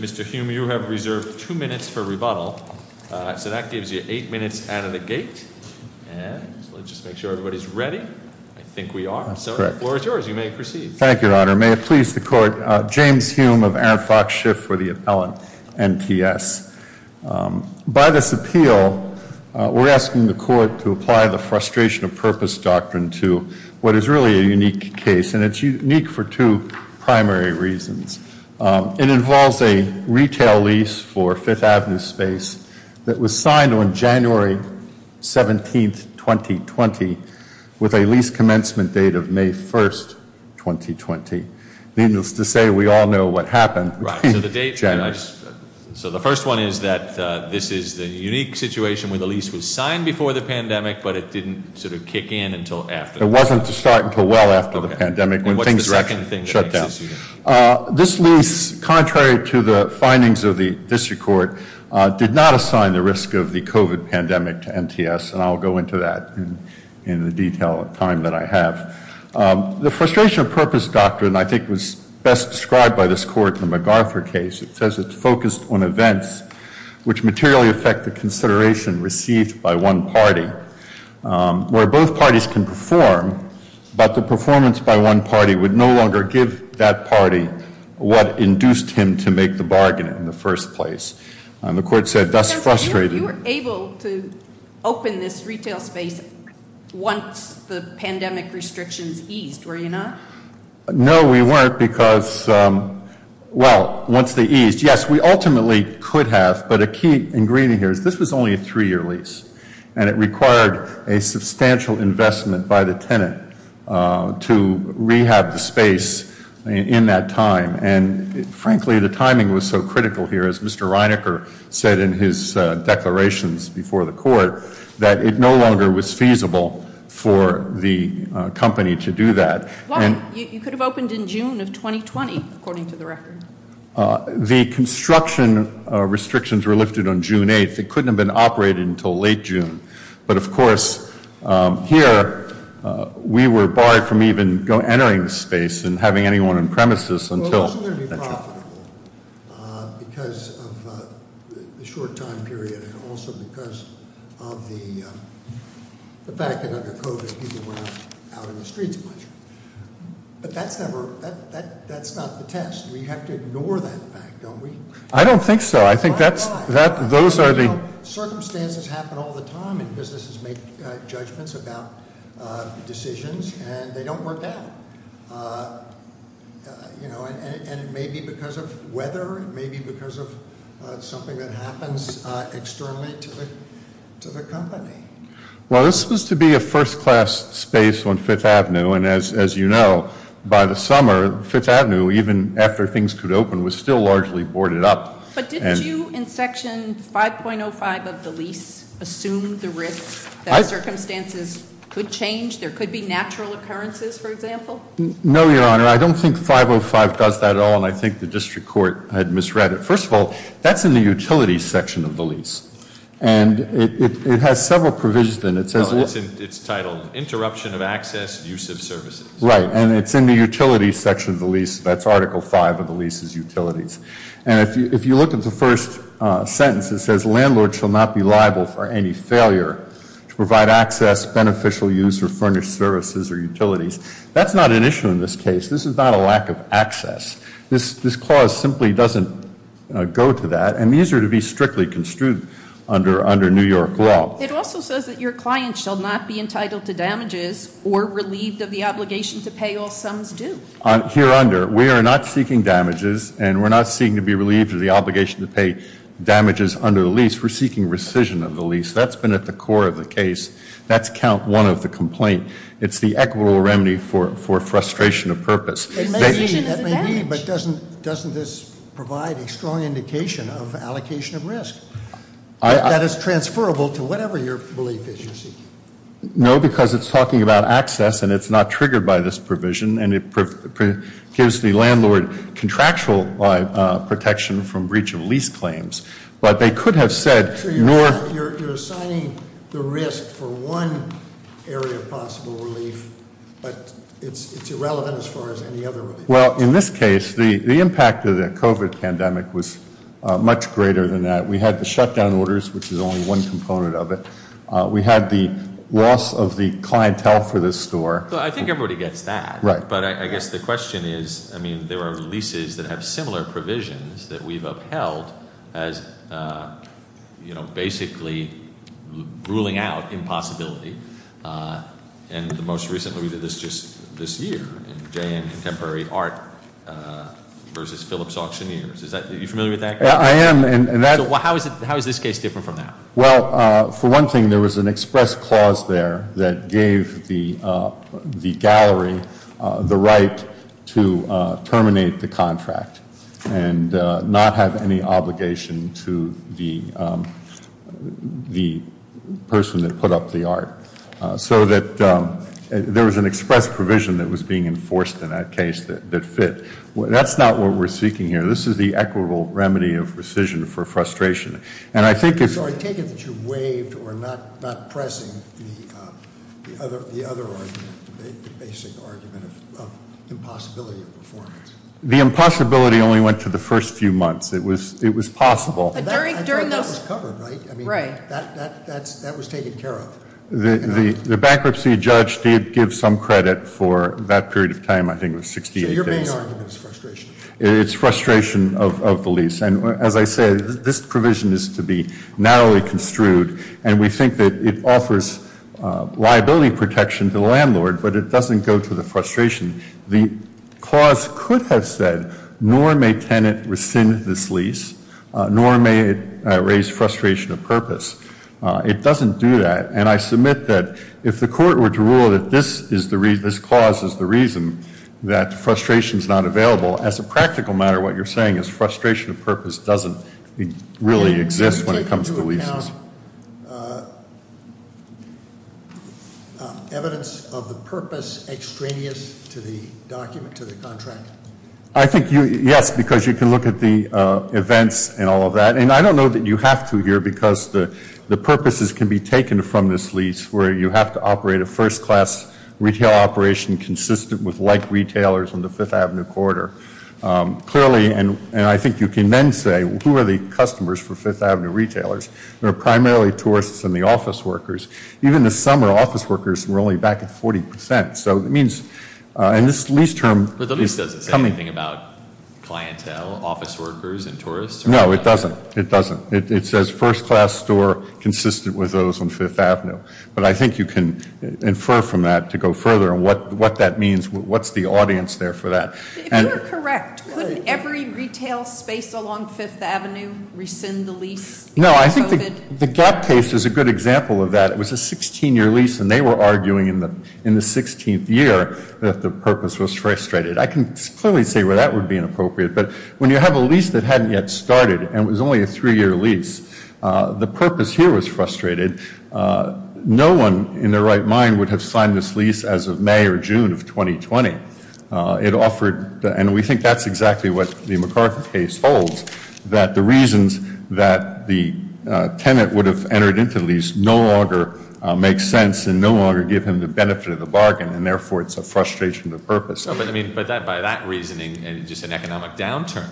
Mr. Hume, you have reserved two minutes for rebuttal, so that gives you eight minutes out of the gate. Let's just make sure everybody's ready. I think we are. The floor is yours. You may proceed. Thank you, Your Honor. May it please the Court, James Hume of Aaron Fox Schiff for the appellant, NTS. By this appeal, we're asking the Court to apply the Frustration of Purpose Doctrine to what is really a unique case, and it's unique for two primary reasons. It involves a retail lease for 5th Avenue Space that was signed on January 17, 2020, with a lease commencement date of May 1, 2020. Needless to say, we all know what happened. Right. So the date. January. So the first one is that this is the unique situation where the lease was signed before the pandemic, but it didn't sort of kick in until after. It wasn't to start until well after the pandemic, when things actually shut down. This lease, contrary to the findings of the district court, did not assign the risk of the COVID pandemic to NTS, and I'll go into that in the detail of time that I have. The Frustration of Purpose Doctrine, I think, was best described by this Court in the MacArthur case. It says it's focused on events which materially affect the consideration received by one party, where both parties can perform, but the performance by one party would no longer give that party what induced him to make the bargain in the first place. The Court said, thus frustrated. You were able to open this retail space once the pandemic restrictions eased, were you not? No, we weren't, because, well, once they eased, yes, we ultimately could have, but a key ingredient here is this was only a three-year lease, and it required a substantial investment by the tenant to rehab the space in that time, and frankly, the timing was so critical here, as Mr. Reinecker said in his declarations before the Court, that it no longer was feasible for the company to do that. Why? You could have opened in June of 2020, according to the record. The construction restrictions were lifted on June 8th, it couldn't have been operated until late June, but of course, here, we were barred from even entering the space and having anyone on premises until. It wasn't going to be profitable because of the short time period, and also because of the fact that under COVID, people weren't out in the streets much, but that's never, that's not the test. We have to ignore that fact, don't we? I don't think so. I think that's- Why? Why? Those are the- Circumstances happen all the time, and businesses make judgments about decisions, and they don't work out. It may be because of weather, it may be because of something that happens externally to the company. Well, this was supposed to be a first class space on Fifth Avenue, and as you know, by the summer, Fifth Avenue, even after things could open, was still largely boarded up. But didn't you, in section 5.05 of the lease, assume the risks that circumstances could change? There could be natural occurrences, for example? No, Your Honor. I don't think 5.05 does that at all, and I think the district court had misread it. First of all, that's in the utility section of the lease, and it has several provisions in it. It says- No, it's titled, Interruption of Access, Use of Services. Right. And it's in the utility section of the lease. That's Article 5 of the lease is utilities. And if you look at the first sentence, it says, Landlord shall not be liable for any failure to provide access, beneficial use, or furnished services or utilities. That's not an issue in this case. This is not a lack of access. This clause simply doesn't go to that, and these are to be strictly construed under New York law. It also says that your client shall not be entitled to damages or relieved of the obligation to pay all sums due. Here under, we are not seeking damages, and we're not seeking to be relieved of the obligation to pay damages under the lease. We're seeking rescission of the lease. That's been at the core of the case. That's count one of the complaint. It's the equitable remedy for frustration of purpose. It may be, but doesn't this provide a strong indication of allocation of risk that is transferable to whatever your belief is you're seeking? No, because it's talking about access, and it's not triggered by this provision, and it gives the landlord contractual protection from breach of lease claims. But they could have said- I'm not sure you're assigning the risk for one area of possible relief, but it's irrelevant as far as any other relief. Well, in this case, the impact of the COVID pandemic was much greater than that. We had the shutdown orders, which is only one component of it. We had the loss of the clientele for this store. Well, I think everybody gets that. Right. But I guess the question is, I mean, there are leases that have similar provisions that we've upheld as, you know, basically ruling out impossibility. And the most recently we did this just this year in JN Contemporary Art versus Phillips Auctioneers. Are you familiar with that? Yeah, I am. And that- Well, how is this case different from that? Well, for one thing, there was an express clause there that gave the gallery the right to terminate the contract and not have any obligation to the person that put up the art. So that there was an express provision that was being enforced in that case that fit. That's not what we're seeking here. This is the equitable remedy of rescission for frustration. And I think it's- The impossibility only went to the first few months. It was possible. But during those- That was covered, right? Right. I mean, that was taken care of. The bankruptcy judge did give some credit for that period of time. I think it was 68 days. So your main argument is frustration? It's frustration of the lease. And as I said, this provision is to be narrowly construed. And we think that it offers liability protection to the landlord. But it doesn't go to the frustration. The clause could have said, nor may tenant rescind this lease, nor may it raise frustration of purpose. It doesn't do that. And I submit that if the court were to rule that this clause is the reason that frustration is not available, as a practical matter, what you're saying is frustration of purpose doesn't really exist when it comes to leases. Can you take into account evidence of the purpose extraneous to the document, to the contract? I think you- Yes, because you can look at the events and all of that. And I don't know that you have to here, because the purposes can be taken from this lease where you have to operate a first class retail operation consistent with like retailers on the 5th Avenue corridor. Clearly, and I think you can then say, who are the customers for 5th Avenue retailers? They're primarily tourists and the office workers. Even the summer office workers were only back at 40%. So it means, and this lease term- But the lease doesn't say anything about clientele, office workers, and tourists? No, it doesn't. It doesn't. It says first class store consistent with those on 5th Avenue. But I think you can infer from that to go further on what that means, what's the audience there for that? If you were correct, couldn't every retail space along 5th Avenue rescind the lease? No, I think the Gap case is a good example of that. It was a 16-year lease and they were arguing in the 16th year that the purpose was frustrated. I can clearly see where that would be inappropriate. But when you have a lease that hadn't yet started and it was only a three-year lease, the purpose here was frustrated. No one in their right mind would have signed this lease as of May or June of 2020. It offered, and we think that's exactly what the McCarthy case holds, that the reasons that the tenant would have entered into the lease no longer make sense and no longer give him the benefit of the bargain, and therefore it's a frustration of purpose. But by that reasoning, just an economic downturn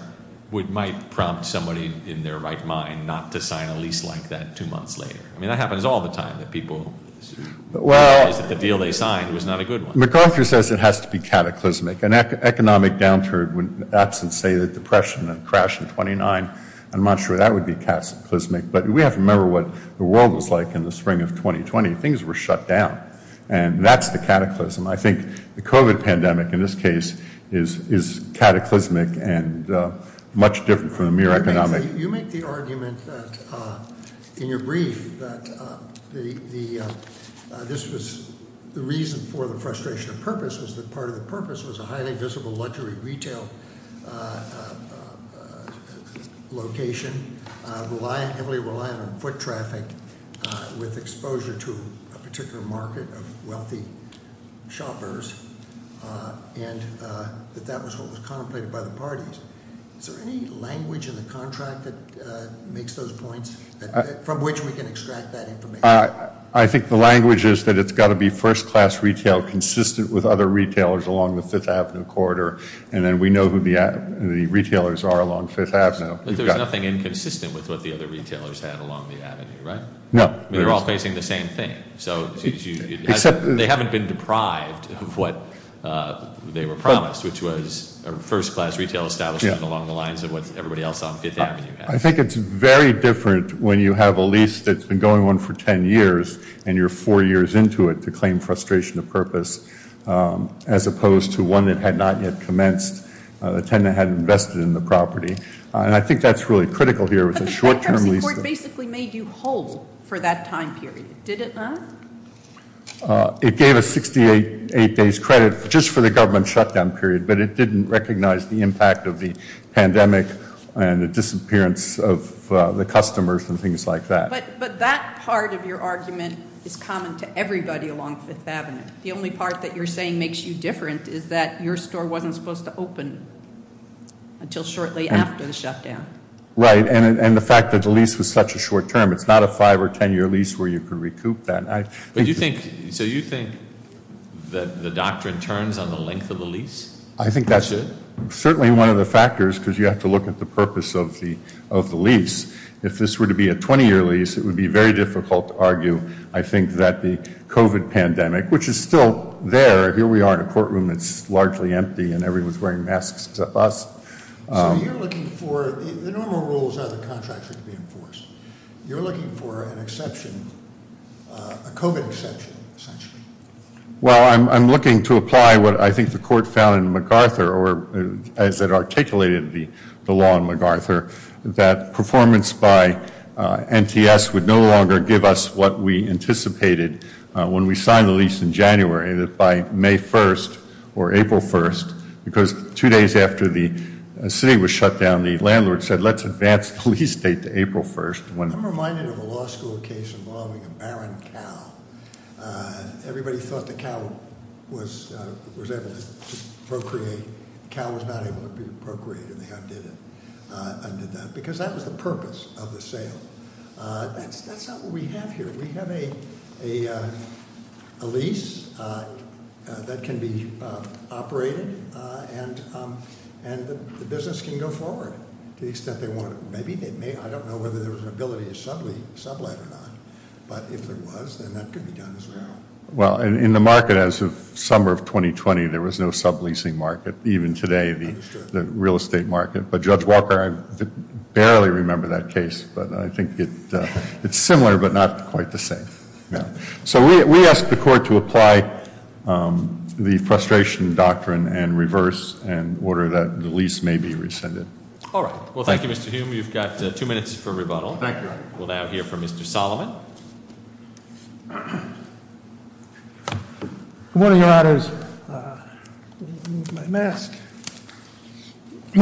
might prompt somebody in their right mind not to sign a lease like that two months later. I mean, that happens all the time, that people realize that the deal they signed was not a good one. McCarthy says it has to be cataclysmic. An economic downturn, that's to say the Depression and the crash of 29 in Montreal, that would be cataclysmic. But we have to remember what the world was like in the spring of 2020. Things were shut down, and that's the cataclysm. I think the COVID pandemic in this case is cataclysmic and much different from the mere economic... You make the argument that, in your brief, that the reason for the frustration of purpose was that part of the purpose was a highly visible luxury retail location, heavily reliant on foot traffic, with exposure to a particular market of wealthy shoppers, and that that was what was contemplated by the parties. Is there any language in the contract that makes those points, from which we can extract that information? I think the language is that it's got to be first-class retail consistent with other retailers along the Fifth Avenue corridor, and then we know who the retailers are along Fifth Avenue. But there's nothing inconsistent with what the other retailers had along the avenue, right? No. They're all facing the same thing. So they haven't been deprived of what they were promised, which was a first-class retail establishment along the lines of what everybody else on Fifth Avenue had. I think it's very different when you have a lease that's been going on for 10 years, and you're four years into it, to claim frustration of purpose, as opposed to one that had not yet commenced, the tenant had invested in the property. And I think that's really critical here, with a short-term lease... But the bankruptcy court basically made you whole for that time period, did it not? It gave us 68 days credit just for the government shutdown period, but it didn't recognize the impact of the pandemic and the disappearance of the customers and things like that. But that part of your argument is common to everybody along Fifth Avenue. The only part that you're saying makes you different is that your store wasn't supposed to open until shortly after the shutdown. Right. And the fact that the lease was such a short term, it's not a five or 10-year lease where you can recoup that. So you think that the doctrine turns on the length of the lease? I think that's... That's really one of the factors, because you have to look at the purpose of the lease. If this were to be a 20-year lease, it would be very difficult to argue. I think that the COVID pandemic, which is still there, here we are in a courtroom, it's largely empty, and everyone's wearing masks except us. So you're looking for... The normal rules are the contracts are to be enforced. You're looking for an exception, a COVID exception, essentially? Well, I'm looking to apply what I think the court found in MacArthur, or as it articulated the law in MacArthur, that performance by NTS would no longer give us what we anticipated when we signed the lease in January, that by May 1st or April 1st, because two days after the city was shut down, the landlord said, let's advance the lease date to April 1st. I'm reminded of a law school case involving a barren cow. Everybody thought the cow was able to procreate. The cow was not able to procreate, and they undid it, undid that, because that was the purpose of the sale. That's not what we have here. We have a lease that can be operated, and the business can go forward to the extent they want to. Maybe they may, I don't know whether there was an ability to sublease, sublet or not, but if there was, then that could be done as well. Well, in the market as of summer of 2020, there was no subleasing market. Even today, the real estate market. But Judge Walker, I barely remember that case, but I think it's similar, but not quite the same. So we ask the court to apply the frustration doctrine and reverse, in order that the lease may be rescinded. All right, well, thank you, Mr. Hume. You've got two minutes for rebuttal. Thank you. We'll now hear from Mr. Solomon. For one of your honors, may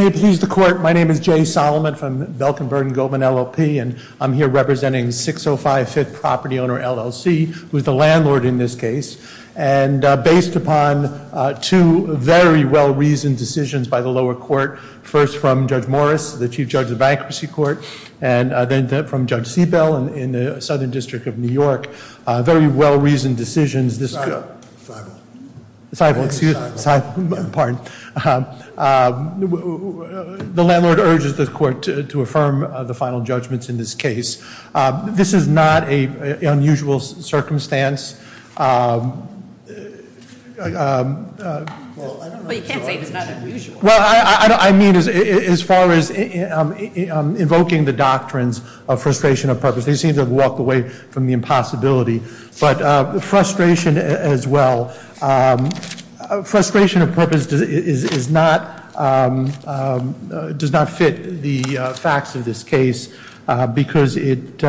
I please the court? My name is Jay Solomon from Belkin, Vernon, Goldman, LLP. And I'm here representing 605 Fifth Property Owner, LLC, who's the landlord in this case. And based upon two very well-reasoned decisions by the lower court, first from Judge Morris, the Chief Judge of Bankruptcy Court, and then from Judge Seabell in the Southern District of New York. Very well-reasoned decisions, this- Sifo, Sifo. Sifo, excuse me, Sifo, pardon. The landlord urges the court to affirm the final judgements in this case. This is not an unusual circumstance. Well, I don't know- But you can't say it's not unusual. Well, I mean as far as invoking the doctrines of frustration of purpose. They seem to have walked away from the impossibility. But frustration as well. Frustration of purpose does not fit the facts of this case. Because it,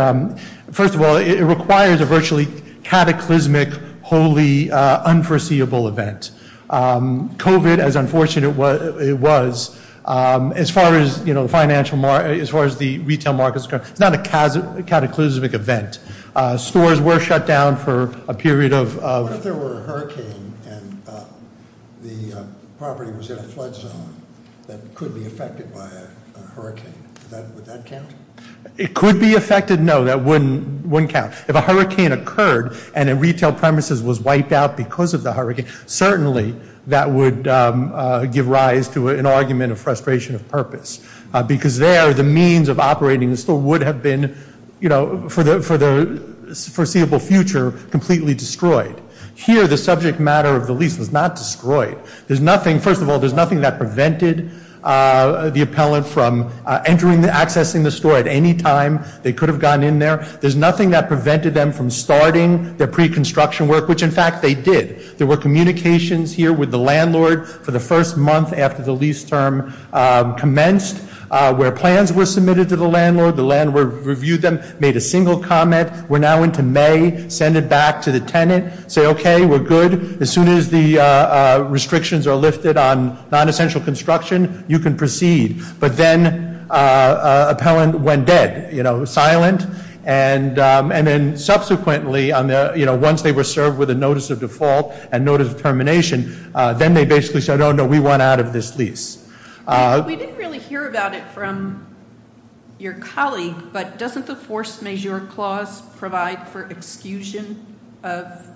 first of all, it requires a virtually cataclysmic, holy, unforeseeable event. COVID, as unfortunate as it was, as far as the financial, as far as the retail markets. It's not a cataclysmic event. Stores were shut down for a period of- What if there were a hurricane and the property was in a flood zone that could be affected by a hurricane, would that count? It could be affected, no, that wouldn't count. If a hurricane occurred and a retail premises was wiped out because of the hurricane, certainly that would give rise to an argument of frustration of purpose. Because there, the means of operating the store would have been, for the foreseeable future, completely destroyed. Here, the subject matter of the lease was not destroyed. There's nothing, first of all, there's nothing that prevented the appellant from accessing the store at any time. They could have gone in there. There's nothing that prevented them from starting their pre-construction work, which in fact they did. There were communications here with the landlord for the first month after the lease term commenced, where plans were submitted to the landlord, the landlord reviewed them, made a single comment. We're now into May, send it back to the tenant, say okay, we're good. As soon as the restrictions are lifted on non-essential construction, you can proceed. But then, appellant went dead, silent. And then subsequently, once they were served with a notice of default and notice of termination, then they basically said, no, we want out of this lease. We didn't really hear about it from your colleague, but doesn't the force majeure clause provide for exclusion of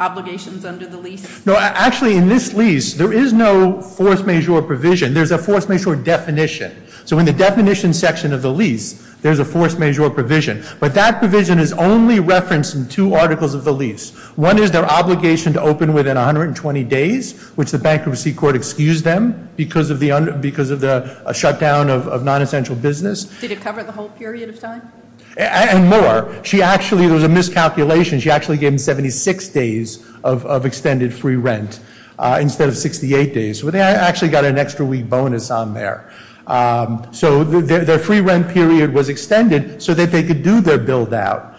obligations under the lease? No, actually in this lease, there is no force majeure provision. There's a force majeure definition. So in the definition section of the lease, there's a force majeure provision. But that provision is only referenced in two articles of the lease. One is their obligation to open within 120 days, which the bankruptcy court excused them because of the shutdown of non-essential business. Did it cover the whole period of time? And more, there was a miscalculation. She actually gave them 76 days of extended free rent instead of 68 days. So they actually got an extra week bonus on there. So their free rent period was extended so that they could do their billed out.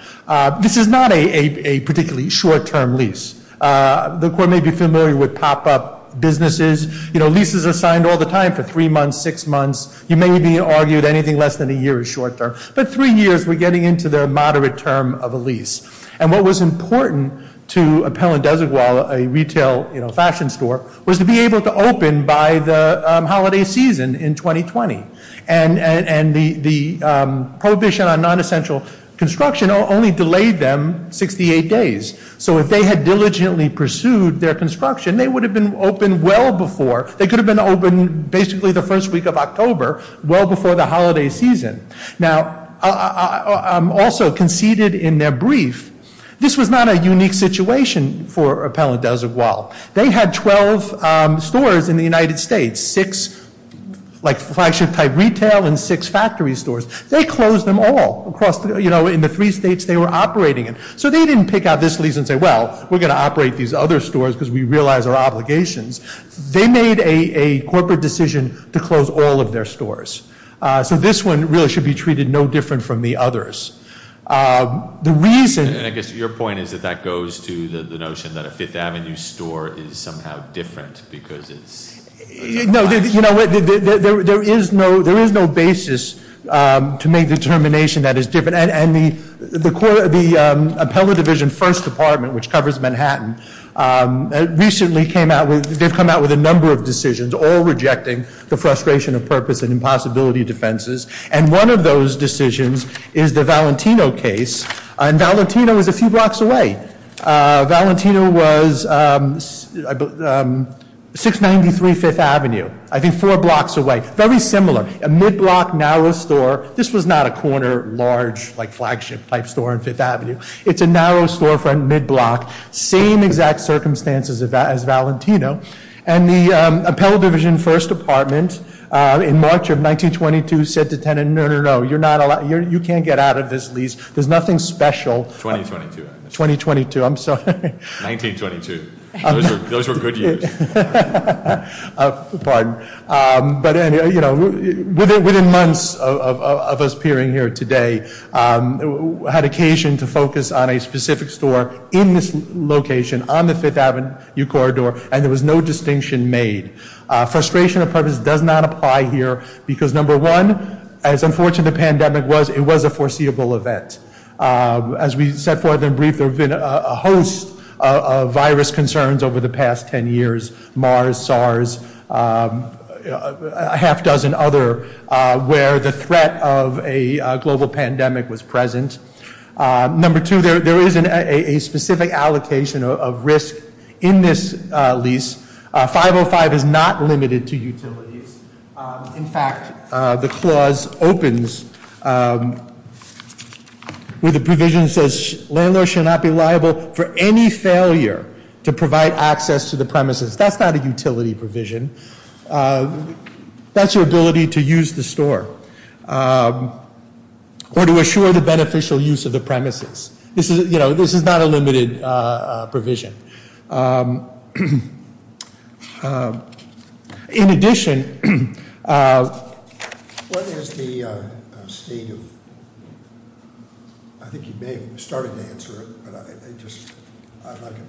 This is not a particularly short term lease. The court may be familiar with pop up businesses. Leases are signed all the time for three months, six months. You may be argued anything less than a year is short term. But three years, we're getting into the moderate term of a lease. And what was important to Appellant Desert Wall, a retail fashion store, was to be able to open by the holiday season in 2020. And the prohibition on non-essential construction only delayed them 68 days. So if they had diligently pursued their construction, they would have been open well before. They could have been open basically the first week of October, well before the holiday season. Now, also conceded in their brief, this was not a unique situation for Appellant Desert Wall. They had 12 stores in the United States, six flagship type retail and six factory stores. They closed them all across, in the three states they were operating in. So they didn't pick out this lease and say, well, we're going to operate these other stores because we realize our obligations. They made a corporate decision to close all of their stores. So this one really should be treated no different from the others. The reason- And I guess your point is that that goes to the notion that a Fifth Avenue store is somehow different because it's- No, there is no basis to make determination that is different. And the Appellant Division First Department, which covers Manhattan, recently came out with, they've come out with a number of decisions, all rejecting the frustration of purpose and impossibility defenses. And one of those decisions is the Valentino case, and Valentino is a few blocks away. Valentino was 693 Fifth Avenue, I think four blocks away. Very similar, a mid-block, narrow store. This was not a corner, large, flagship type store on Fifth Avenue. It's a narrow storefront, mid-block. Same exact circumstances as Valentino. And the Appellant Division First Department, in March of 1922, said to tenant, no, no, no. You're not allowed, you can't get out of this lease. There's nothing special. 2022. 2022, I'm sorry. 1922, those were good years. Pardon. But anyway, within months of us appearing here today, we had occasion to focus on a specific store in this location on the Fifth Avenue corridor, and there was no distinction made. Frustration of purpose does not apply here, because number one, as unfortunate the pandemic was, it was a foreseeable event. As we set forth in brief, there have been a host of virus concerns over the past ten years. Mars, SARS, a half dozen other, where the threat of a global pandemic was present. Number two, there is a specific allocation of risk in this lease. 505 is not limited to utilities. In fact, the clause opens with a provision that says, you cannot be liable for any failure to provide access to the premises. That's not a utility provision. That's your ability to use the store, or to assure the beneficial use of the premises. This is not a limited provision. In addition, what is the state of, I think you may have started to answer it, but I'd like to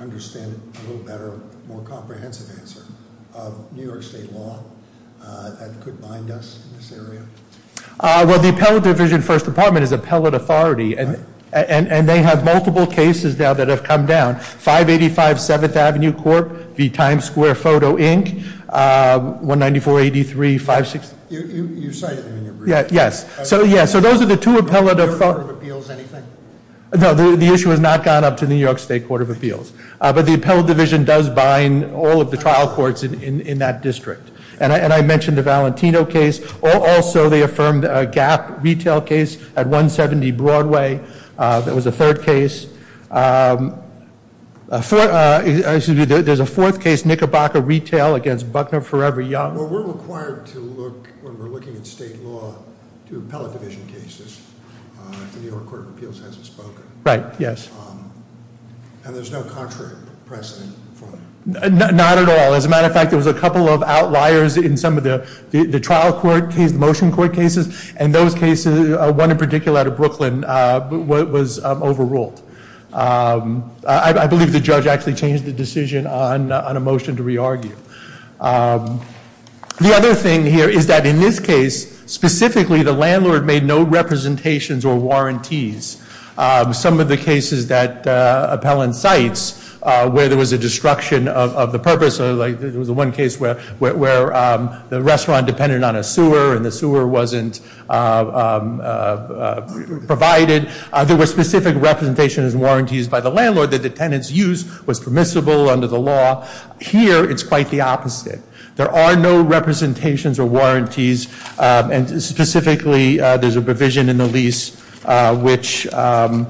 understand it a little better, more comprehensive answer, of New York State law that could bind us in this area? Well, the Appellate Division First Department is appellate authority, and they have multiple cases now that have come down. 585 Seventh Avenue Court v. Times Square Photo Inc., 19483-560- You cited them in your brief. Yes, so yeah, so those are the two appellate- The New York Court of Appeals, anything? No, the issue has not gone up to the New York State Court of Appeals. But the Appellate Division does bind all of the trial courts in that district. And I mentioned the Valentino case, also they affirmed a Gap retail case at 170 Broadway. That was the third case. There's a fourth case, Knickerbocker Retail against Buckner Forever Young. Well, we're required to look, when we're looking at state law, to appellate division cases. The New York Court of Appeals hasn't spoken. Right, yes. And there's no contrary precedent for them? Not at all. As a matter of fact, there was a couple of outliers in some of the trial court cases, the motion court cases. And those cases, one in particular out of Brooklyn, was overruled. I believe the judge actually changed the decision on a motion to re-argue. The other thing here is that in this case, specifically, the landlord made no representations or warranties. Some of the cases that appellant cites, where there was a destruction of the purpose, like there was one case where the restaurant depended on a sewer and the sewer wasn't provided. There were specific representations and warranties by the landlord that the tenant's use was permissible under the law. Here, it's quite the opposite. There are no representations or warranties, and specifically, there's a provision in the lease which the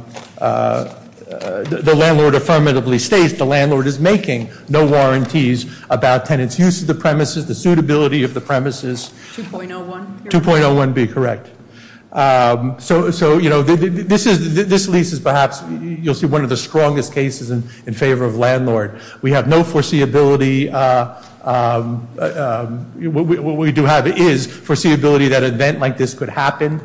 landlord affirmatively states. The landlord is making no warranties about tenant's use of the premises, the suitability of the premises. 2.01? 2.01B, correct. So this lease is perhaps, you'll see, one of the strongest cases in favor of landlord. We have no foreseeability, what we do have is foreseeability that an event like this could happen.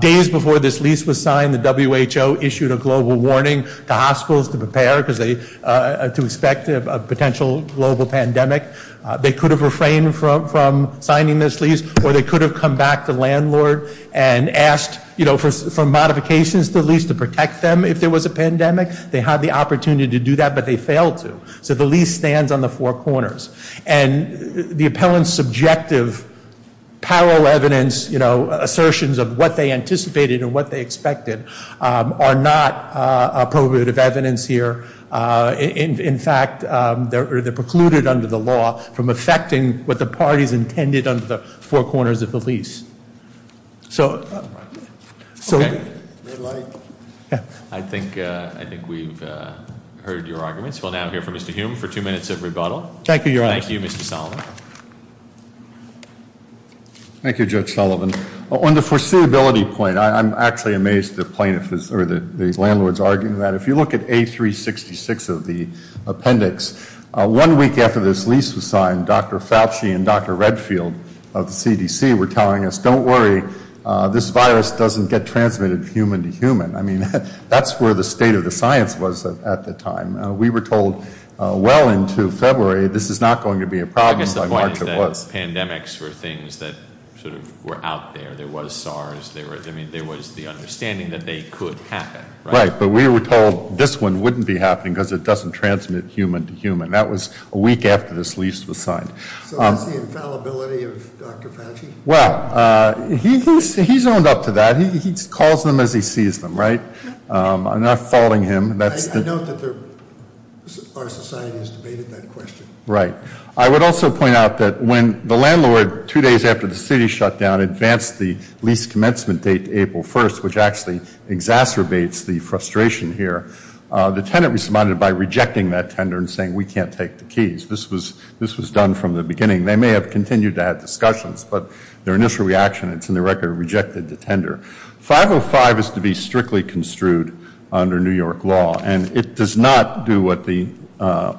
Days before this lease was signed, the WHO issued a global warning to hospitals to prepare, because they, to expect a potential global pandemic. They could have refrained from signing this lease, or they could have come back to landlord and asked for modifications to the lease to protect them if there was a pandemic. They had the opportunity to do that, but they failed to. So the lease stands on the four corners. And the appellant's subjective parallel evidence, assertions of what they anticipated and what they expected, are not appropriative evidence here. In fact, they're precluded under the law from affecting what the party's intended under the four corners of the lease. So- I think we've heard your arguments. We'll now hear from Mr. Hume for two minutes of rebuttal. Thank you, Your Honor. Thank you, Mr. Sullivan. Thank you, Judge Sullivan. On the foreseeability point, I'm actually amazed the plaintiff, or the landlord's arguing that. If you look at A366 of the appendix, one week after this lease was signed, Dr. Fauci and Dr. Redfield of the CDC were telling us, don't worry. This virus doesn't get transmitted from human to human. I mean, that's where the state of the science was at the time. We were told well into February, this is not going to be a problem, by March it was. I guess the point is that pandemics were things that sort of were out there. There was SARS, there was the understanding that they could happen, right? Right, but we were told this one wouldn't be happening because it doesn't transmit human to human. That was a week after this lease was signed. So what's the infallibility of Dr. Fauci? Well, he's owned up to that. He calls them as he sees them, right? I'm not faulting him. I note that our society has debated that question. Right. I would also point out that when the landlord, two days after the city shut down, advanced the lease commencement date to April 1st, which actually exacerbates the frustration here. The tenant responded by rejecting that tender and saying we can't take the keys. This was done from the beginning. They may have continued to have discussions, but their initial reaction, it's in the record, rejected the tender. 505 is to be strictly construed under New York law, and it does not do what the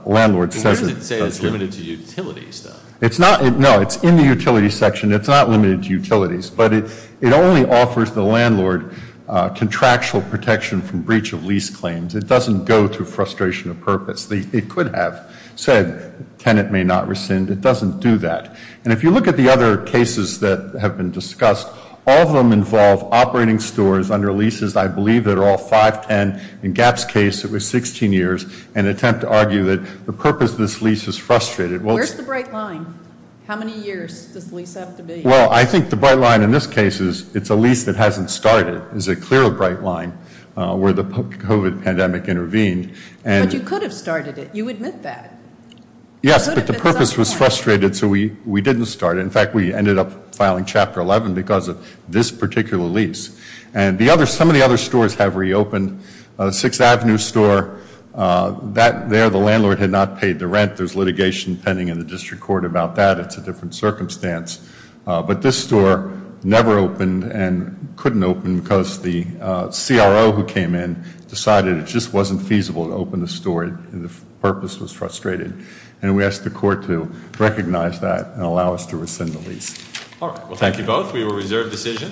landlord says it does do. Where does it say it's limited to utilities, though? It's not, no, it's in the utility section. It's not limited to utilities, but it only offers the landlord contractual protection from breach of lease claims. It doesn't go through frustration of purpose. It could have said tenant may not rescind. It doesn't do that. And if you look at the other cases that have been discussed, all of them involve operating stores under leases, I believe, that are all 510. In Gap's case, it was 16 years, an attempt to argue that the purpose of this lease is frustrated. Where's the bright line? How many years does the lease have to be? Well, I think the bright line in this case is it's a lease that hasn't started, is a clear bright line, where the COVID pandemic intervened. But you could have started it. You admit that. Yes, but the purpose was frustrated, so we didn't start it. In fact, we ended up filing Chapter 11 because of this particular lease. And some of the other stores have reopened. Sixth Avenue store, that there, the landlord had not paid the rent. There's litigation pending in the district court about that. It's a different circumstance. But this store never opened and couldn't open because the CRO who came in decided it just wasn't feasible to open the store and the purpose was frustrated. And we asked the court to recognize that and allow us to rescind the lease. All right, well, thank you both. We will reserve decision.